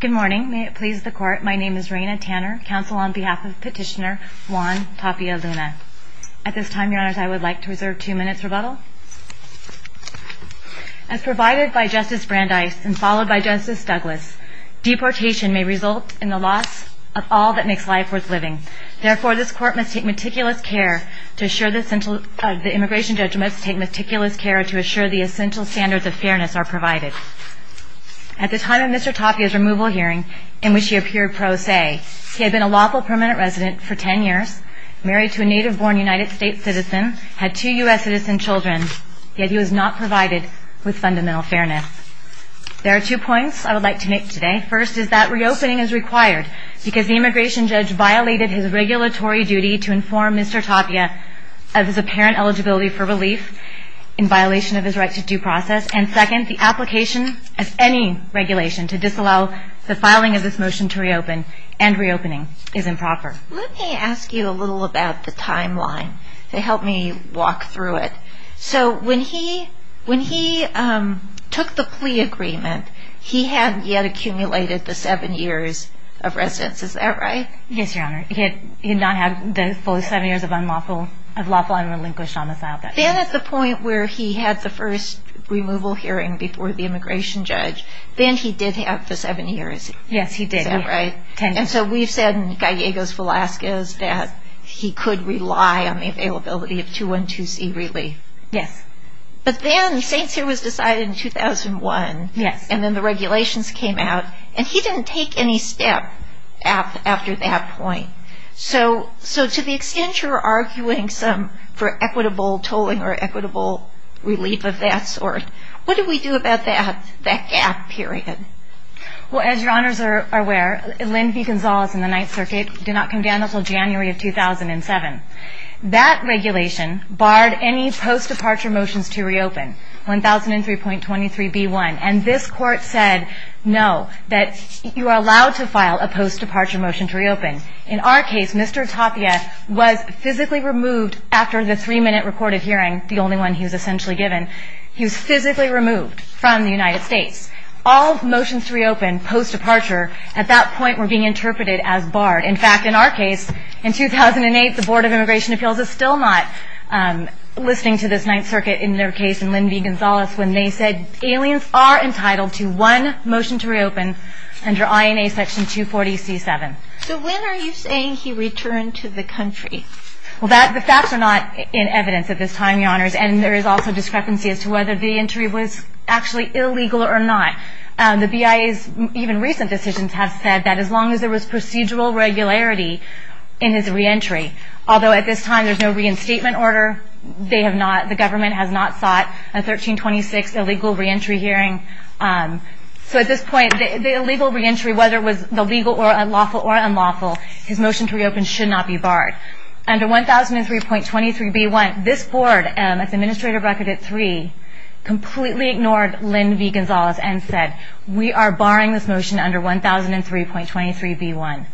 Good morning. May it please the Court, my name is Raina Tanner, counsel on behalf of Petitioner Juan Tapia Luna. At this time, Your Honors, I would like to reserve two minutes rebuttal. As provided by Justice Brandeis and followed by Justice Douglas, deportation may result in the loss of all that makes life worth living. Therefore, this Court must take meticulous care to assure the immigration judgments take meticulous care to assure the essential standards of fairness are provided. At the time of Mr. Tapia's removal hearing, in which he appeared pro se, he had been a lawful permanent resident for ten years, married to a native-born United States citizen, had two U.S. citizen children, yet he was not provided with fundamental fairness. There are two points I would like to make today. First is that reopening is required because the immigration judge violated his regulatory duty to inform Mr. Tapia of his apparent eligibility for relief in violation of his right to due process. And second, the application as any regulation to disallow the filing of this motion to reopen and reopening is improper. Let me ask you a little about the timeline to help me walk through it. So when he took the plea agreement, he had yet accumulated the seven years of residence, is that right? Yes, Your Honor. He had not had the full seven years of lawful unrelinquished homicide. Then at the point where he had the first removal hearing before the immigration judge, then he did have the seven years. Yes, he did. Is that right? Ten years. And so we've said in Gallegos-Velasquez that he could rely on the availability of 212C relief. Yes. But then Saint's Hear was decided in 2001. Yes. And then the regulations came out, and he didn't take any step after that point. So to the extent you're arguing for equitable tolling or equitable relief of that sort, what do we do about that gap period? Well, as Your Honors are aware, Lynn V. Gonzalez and the Ninth Circuit did not come down until January of 2007. That regulation barred any post-departure motions to reopen, 1003.23b1. And this Court said no, that you are allowed to file a post-departure motion to reopen. In our case, Mr. Tapia was physically removed after the three-minute recorded hearing, the only one he was essentially given. He was physically removed from the United States. All motions to reopen post-departure at that point were being interpreted as barred. In fact, in our case, in 2008, the Board of Immigration Appeals is still not listening to this Ninth Circuit in their case and Lynn V. Gonzalez when they said aliens are entitled to one motion to reopen under INA Section 240C7. So when are you saying he returned to the country? Well, the facts are not in evidence at this time, Your Honors. And there is also discrepancy as to whether the entry was actually illegal or not. The BIA's even recent decisions have said that as long as there was procedural regularity in his reentry, although at this time there's no reinstatement order, the government has not sought a 1326 illegal reentry hearing. So at this point, the illegal reentry, whether it was the legal or unlawful or unlawful, his motion to reopen should not be barred. Under 1003.23b1, this Board, as Administrator Recorded 3, completely ignored Lynn V. Gonzalez and said we are barring this motion under 1003.23b1.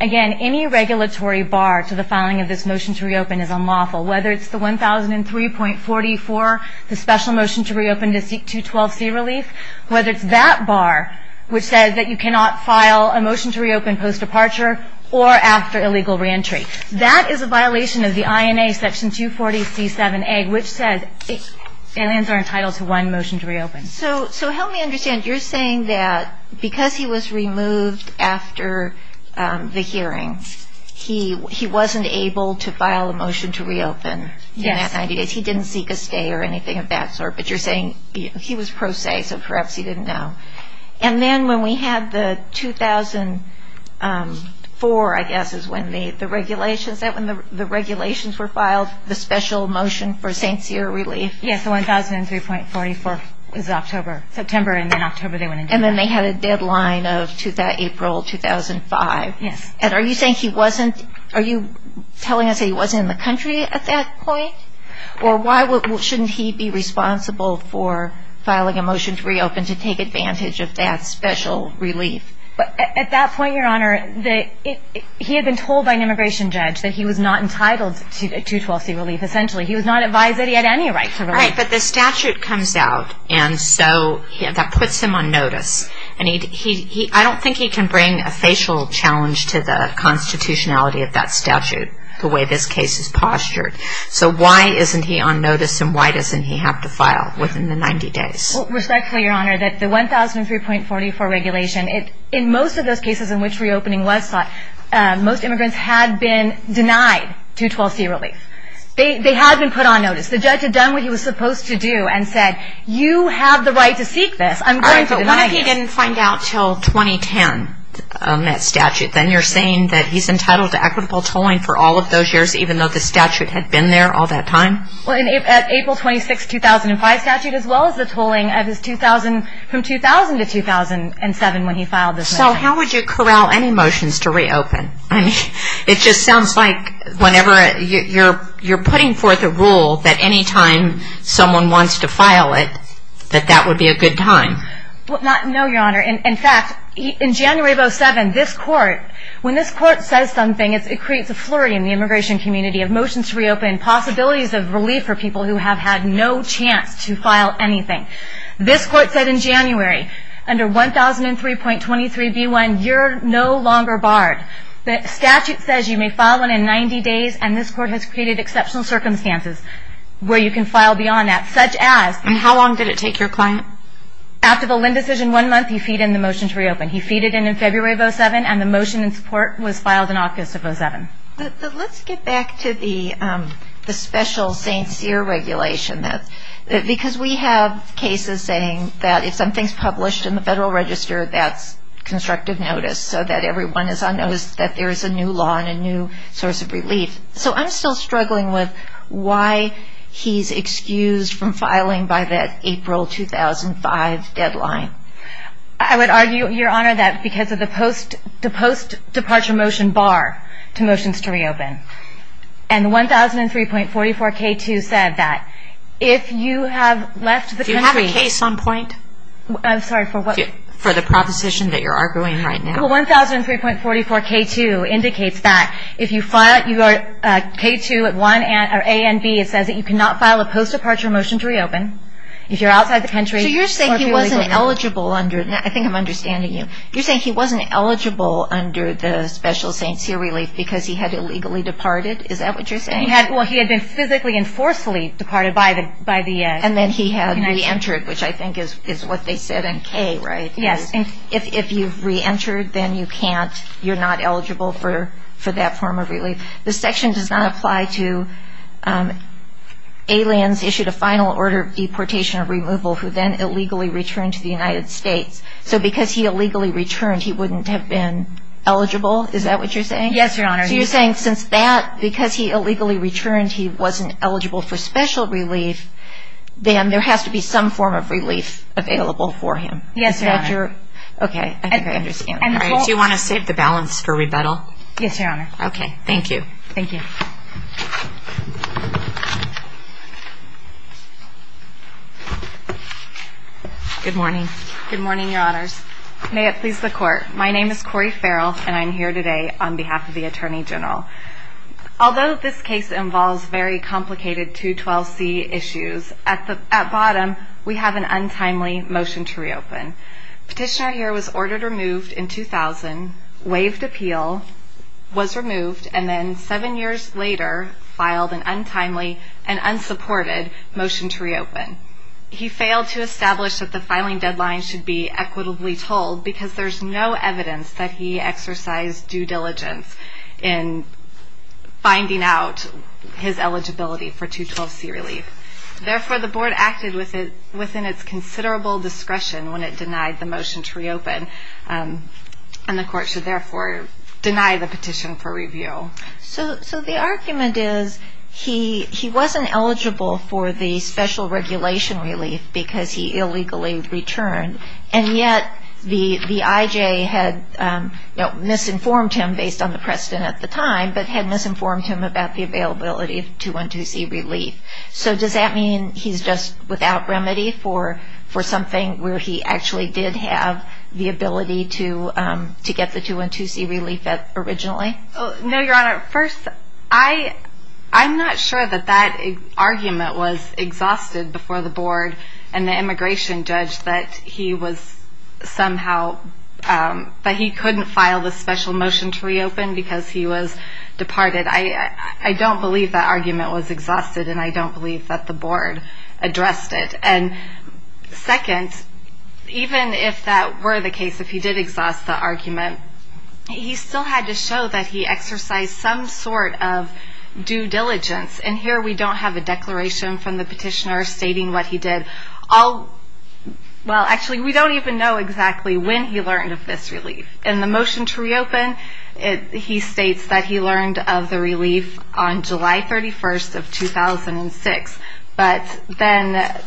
Again, any regulatory bar to the filing of this motion to reopen is unlawful, whether it's the 1003.44, the special motion to reopen to seek 212C relief, whether it's that bar, which says that you cannot file a motion to reopen post-departure or after illegal reentry. That is a violation of the INA Section 240C7A, which says aliens are entitled to one motion to reopen. So help me understand. You're saying that because he was removed after the hearing, he wasn't able to file a motion to reopen in that 90 days. Yes. He didn't seek a stay or anything of that sort. But you're saying he was pro se, so perhaps he didn't know. And then when we had the 2004, I guess, is when the regulations were filed, the special motion for St. Cyr relief. Yes, the 1003.44 was October, September, and then October they went into effect. And then they had a deadline of April 2005. Yes. And are you telling us that he wasn't in the country at that point? Or why shouldn't he be responsible for filing a motion to reopen to take advantage of that special relief? At that point, Your Honor, he had been told by an immigration judge that he was not entitled to 212C relief, essentially. He was not advised that he had any right to relief. Right, but the statute comes out, and so that puts him on notice. I don't think he can bring a facial challenge to the constitutionality of that statute, the way this case is postured. So why isn't he on notice, and why doesn't he have to file within the 90 days? Respectfully, Your Honor, that the 1003.44 regulation, in most of those cases in which reopening was sought, most immigrants had been denied 212C relief. They had been put on notice. The judge had done what he was supposed to do and said, you have the right to seek this. But what if he didn't find out until 2010 on that statute? Then you're saying that he's entitled to equitable tolling for all of those years, even though the statute had been there all that time? Well, in the April 26, 2005 statute, as well as the tolling from 2000 to 2007 when he filed this motion. So how would you corral any motions to reopen? It just sounds like whenever you're putting forth a rule that anytime someone wants to file it, that that would be a good time. No, Your Honor. In fact, in January of 2007, this court, when this court says something, it creates a flurry in the immigration community of motions to reopen, possibilities of relief for people who have had no chance to file anything. This court said in January, under 1003.23B1, you're no longer barred. The statute says you may file one in 90 days, and this court has created exceptional circumstances where you can file beyond that, such as. And how long did it take your client? After the Lynn decision, one month, he feed in the motion to reopen. He feed it in in February of 2007, and the motion in support was filed in August of 2007. Let's get back to the special St. Cyr regulation. Because we have cases saying that if something's published in the Federal Register, that's constructive notice, so that everyone is on notice that there is a new law and a new source of relief. So I'm still struggling with why he's excused from filing by that April 2005 deadline. I would argue, Your Honor, that because of the post-departure motion bar to motions to reopen. And the 1003.44K2 said that if you have left the country. Do you have a case on point? I'm sorry, for what? For the proposition that you're arguing right now. Well, 1003.44K2 indicates that if you file, you are, K2 at 1, or A and B, it says that you cannot file a post-departure motion to reopen if you're outside the country. So you're saying he wasn't eligible under, I think I'm understanding you, you're saying he wasn't eligible under the special St. Cyr relief because he had illegally departed? Is that what you're saying? Well, he had been physically and forcefully departed by the United States. And then he had re-entered, which I think is what they said in K, right? Yes. If you've re-entered, then you can't, you're not eligible for that form of relief. This section does not apply to aliens issued a final order of deportation or removal who then illegally returned to the United States. So because he illegally returned, he wouldn't have been eligible? Is that what you're saying? Yes, Your Honor. So you're saying since that, because he illegally returned, he wasn't eligible for special relief, then there has to be some form of relief available for him? Yes, Your Honor. Okay, I think I understand. Do you want to save the balance for rebuttal? Yes, Your Honor. Okay, thank you. Thank you. Good morning. Good morning, Your Honors. May it please the Court. My name is Cori Farrell, and I'm here today on behalf of the Attorney General. Although this case involves very complicated 212C issues, at the bottom we have an untimely motion to reopen. Petitioner here was ordered removed in 2000, waived appeal, was removed, and then seven years later filed an untimely and unsupported motion to reopen. He failed to establish that the filing deadline should be equitably told because there's no evidence that he exercised due diligence in finding out his eligibility for 212C relief. Therefore, the Board acted within its considerable discretion when it denied the motion to reopen, and the Court should therefore deny the petition for review. So the argument is he wasn't eligible for the special regulation relief because he illegally returned, and yet the IJ had misinformed him based on the precedent at the time but had misinformed him about the availability of 212C relief. So does that mean he's just without remedy for something where he actually did have the ability to get the 212C relief originally? No, Your Honor. First, I'm not sure that that argument was exhausted before the Board and the immigration judge that he couldn't file the special motion to reopen because he was departed. I don't believe that argument was exhausted, and I don't believe that the Board addressed it. And second, even if that were the case, if he did exhaust the argument, he still had to show that he exercised some sort of due diligence. And here we don't have a declaration from the petitioner stating what he did. Well, actually, we don't even know exactly when he learned of this relief. In the motion to reopen, he states that he learned of the relief on July 31st of 2006, but then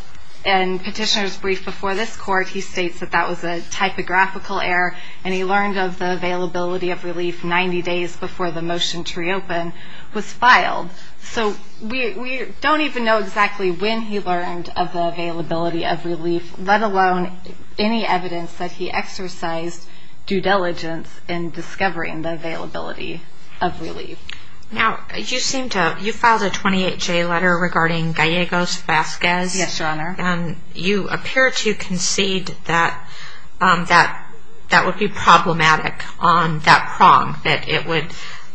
in petitioner's brief before this court, he states that that was a typographical error and he learned of the availability of relief 90 days before the motion to reopen was filed. So we don't even know exactly when he learned of the availability of relief, let alone any evidence that he exercised due diligence in discovering the availability of relief. Now, you filed a 28-J letter regarding Gallegos Vasquez. Yes, Your Honor. And you appear to concede that that would be problematic on that prong, that it would.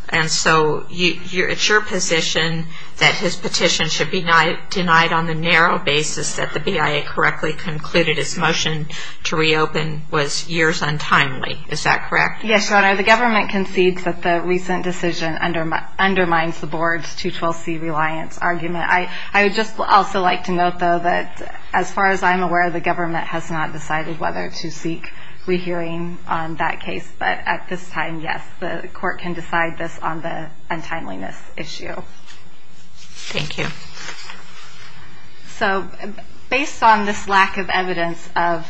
And so it's your position that his petition should be denied on the narrow basis that the BIA correctly concluded his motion to reopen was years untimely. Is that correct? Yes, Your Honor. The government concedes that the recent decision undermines the board's 212C reliance argument. I would just also like to note, though, that as far as I'm aware, the government has not decided whether to seek rehearing on that case. But at this time, yes, the court can decide this on the untimeliness issue. Thank you. So based on this lack of evidence of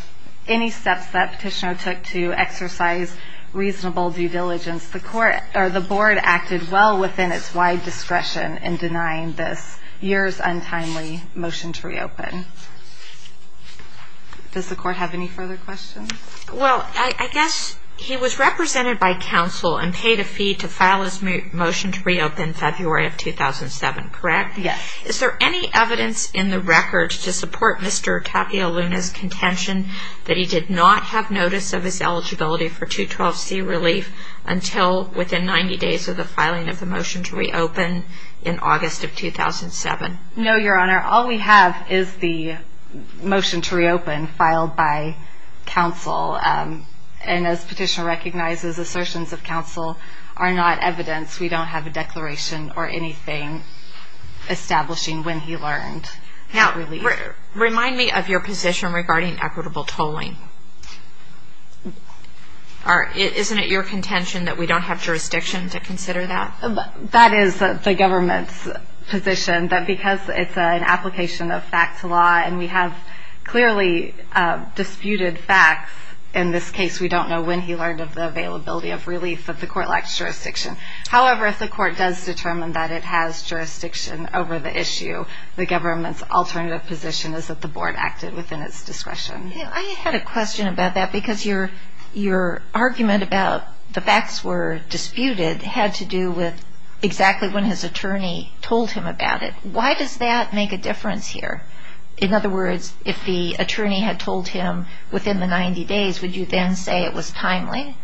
any steps that Petitioner took to exercise reasonable due diligence, the board acted well within its wide discretion in denying this years untimely motion to reopen. Does the court have any further questions? Well, I guess he was represented by counsel and paid a fee to file his motion to reopen February of 2007, correct? Yes. Is there any evidence in the record to support Mr. Tapia Luna's contention that he did not have notice of his eligibility for 212C relief until within 90 days of the filing of the motion to reopen in August of 2007? No, Your Honor. All we have is the motion to reopen filed by counsel. And as Petitioner recognizes, assertions of counsel are not evidence. We don't have a declaration or anything establishing when he learned of relief. Now, remind me of your position regarding equitable tolling. Isn't it your contention that we don't have jurisdiction to consider that? That is the government's position that because it's an application of fact to law and we have clearly disputed facts in this case, we don't know when he learned of the availability of relief that the court lacks jurisdiction. However, if the court does determine that it has jurisdiction over the issue, the government's alternative position is that the board acted within its discretion. I had a question about that because your argument about the facts were disputed and it had to do with exactly when his attorney told him about it. Why does that make a difference here? In other words, if the attorney had told him within the 90 days, would you then say it was timely?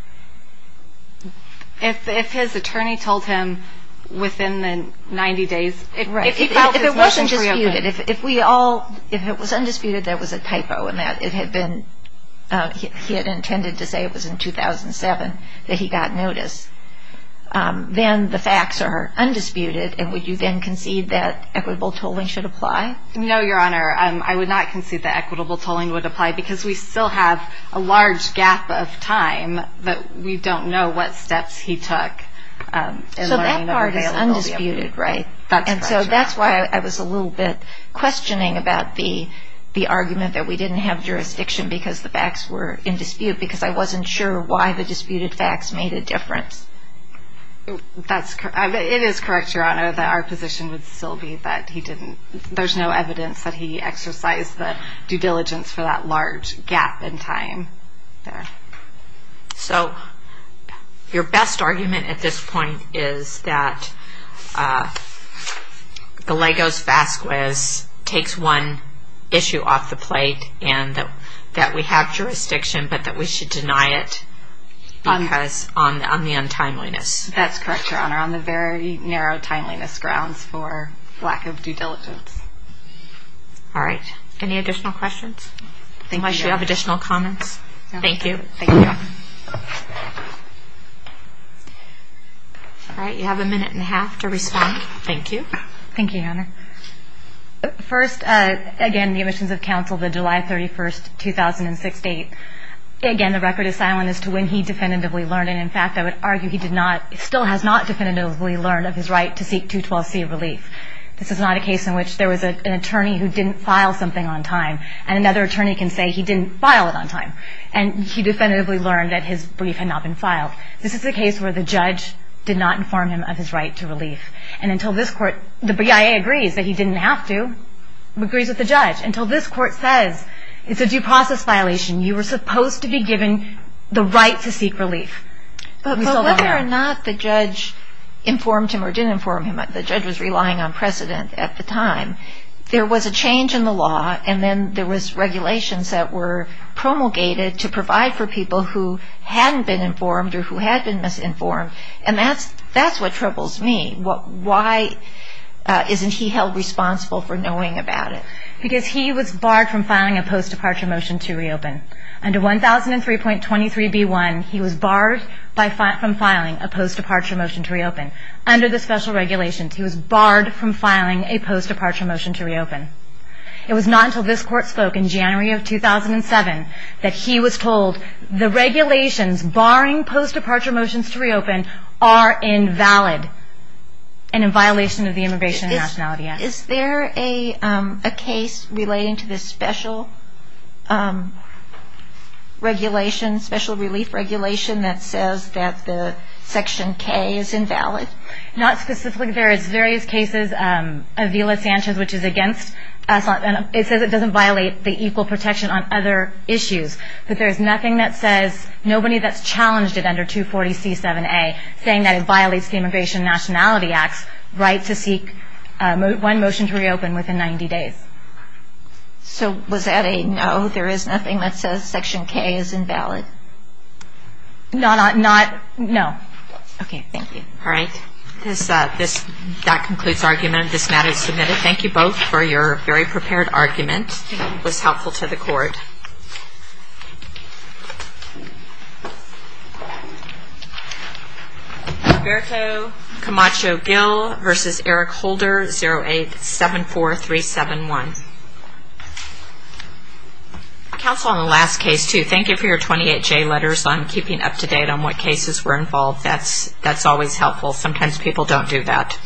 If his attorney told him within the 90 days, if he filed his motion to reopen. If it was undisputed, there was a typo in that. He had intended to say it was in 2007 that he got notice. Then the facts are undisputed and would you then concede that equitable tolling should apply? No, Your Honor. I would not concede that equitable tolling would apply because we still have a large gap of time that we don't know what steps he took. So that part is undisputed, right? And so that's why I was a little bit questioning about the argument that we didn't have jurisdiction because the facts were in dispute because I wasn't sure why the disputed facts made a difference. It is correct, Your Honor, that our position would still be that he didn't. There's no evidence that he exercised the due diligence for that large gap in time there. So your best argument at this point is that Gallegos-Vasquez takes one issue off the plate and that we have jurisdiction but that we should deny it because of the untimeliness. That's correct, Your Honor, on the very narrow timeliness grounds for lack of due diligence. All right. Any additional questions? Why should we have additional comments? Thank you. All right. You have a minute and a half to respond. Thank you. Thank you, Your Honor. First, again, the omissions of counsel, the July 31, 2006 date. Again, the record is silent as to when he definitively learned. And, in fact, I would argue he still has not definitively learned of his right to seek 212C relief. This is not a case in which there was an attorney who didn't file something on time and another attorney can say he didn't file it on time. And he definitively learned that his brief had not been filed. This is a case where the judge did not inform him of his right to relief. And until this court, the BIA agrees that he didn't have to, agrees with the judge, until this court says it's a due process violation, you were supposed to be given the right to seek relief. But whether or not the judge informed him or didn't inform him, the judge was relying on precedent at the time, there was a change in the law and then there was regulations that were promulgated to provide for people who hadn't been informed or who had been misinformed. And that's what troubles me. Why isn't he held responsible for knowing about it? Because he was barred from filing a post-departure motion to reopen. Under 1003.23b1, he was barred from filing a post-departure motion to reopen. Under the special regulations, he was barred from filing a post-departure motion to reopen. It was not until this court spoke in January of 2007 that he was told the regulations barring post-departure motions to reopen are invalid and in violation of the Immigration and Nationality Act. Is there a case relating to this special regulation, special relief regulation, that says that the Section K is invalid? Not specifically. There is various cases, Avila-Sanchez, which is against us. It says it doesn't violate the equal protection on other issues. But there is nothing that says, nobody that's challenged it under 240c7a, saying that it violates the Immigration and Nationality Act's right to seek one motion to reopen within 90 days. So was that a no? There is nothing that says Section K is invalid? Not, no. Okay, thank you. All right. That concludes argument. This matter is submitted. Thank you both for your very prepared argument. It was helpful to the Court. Thank you.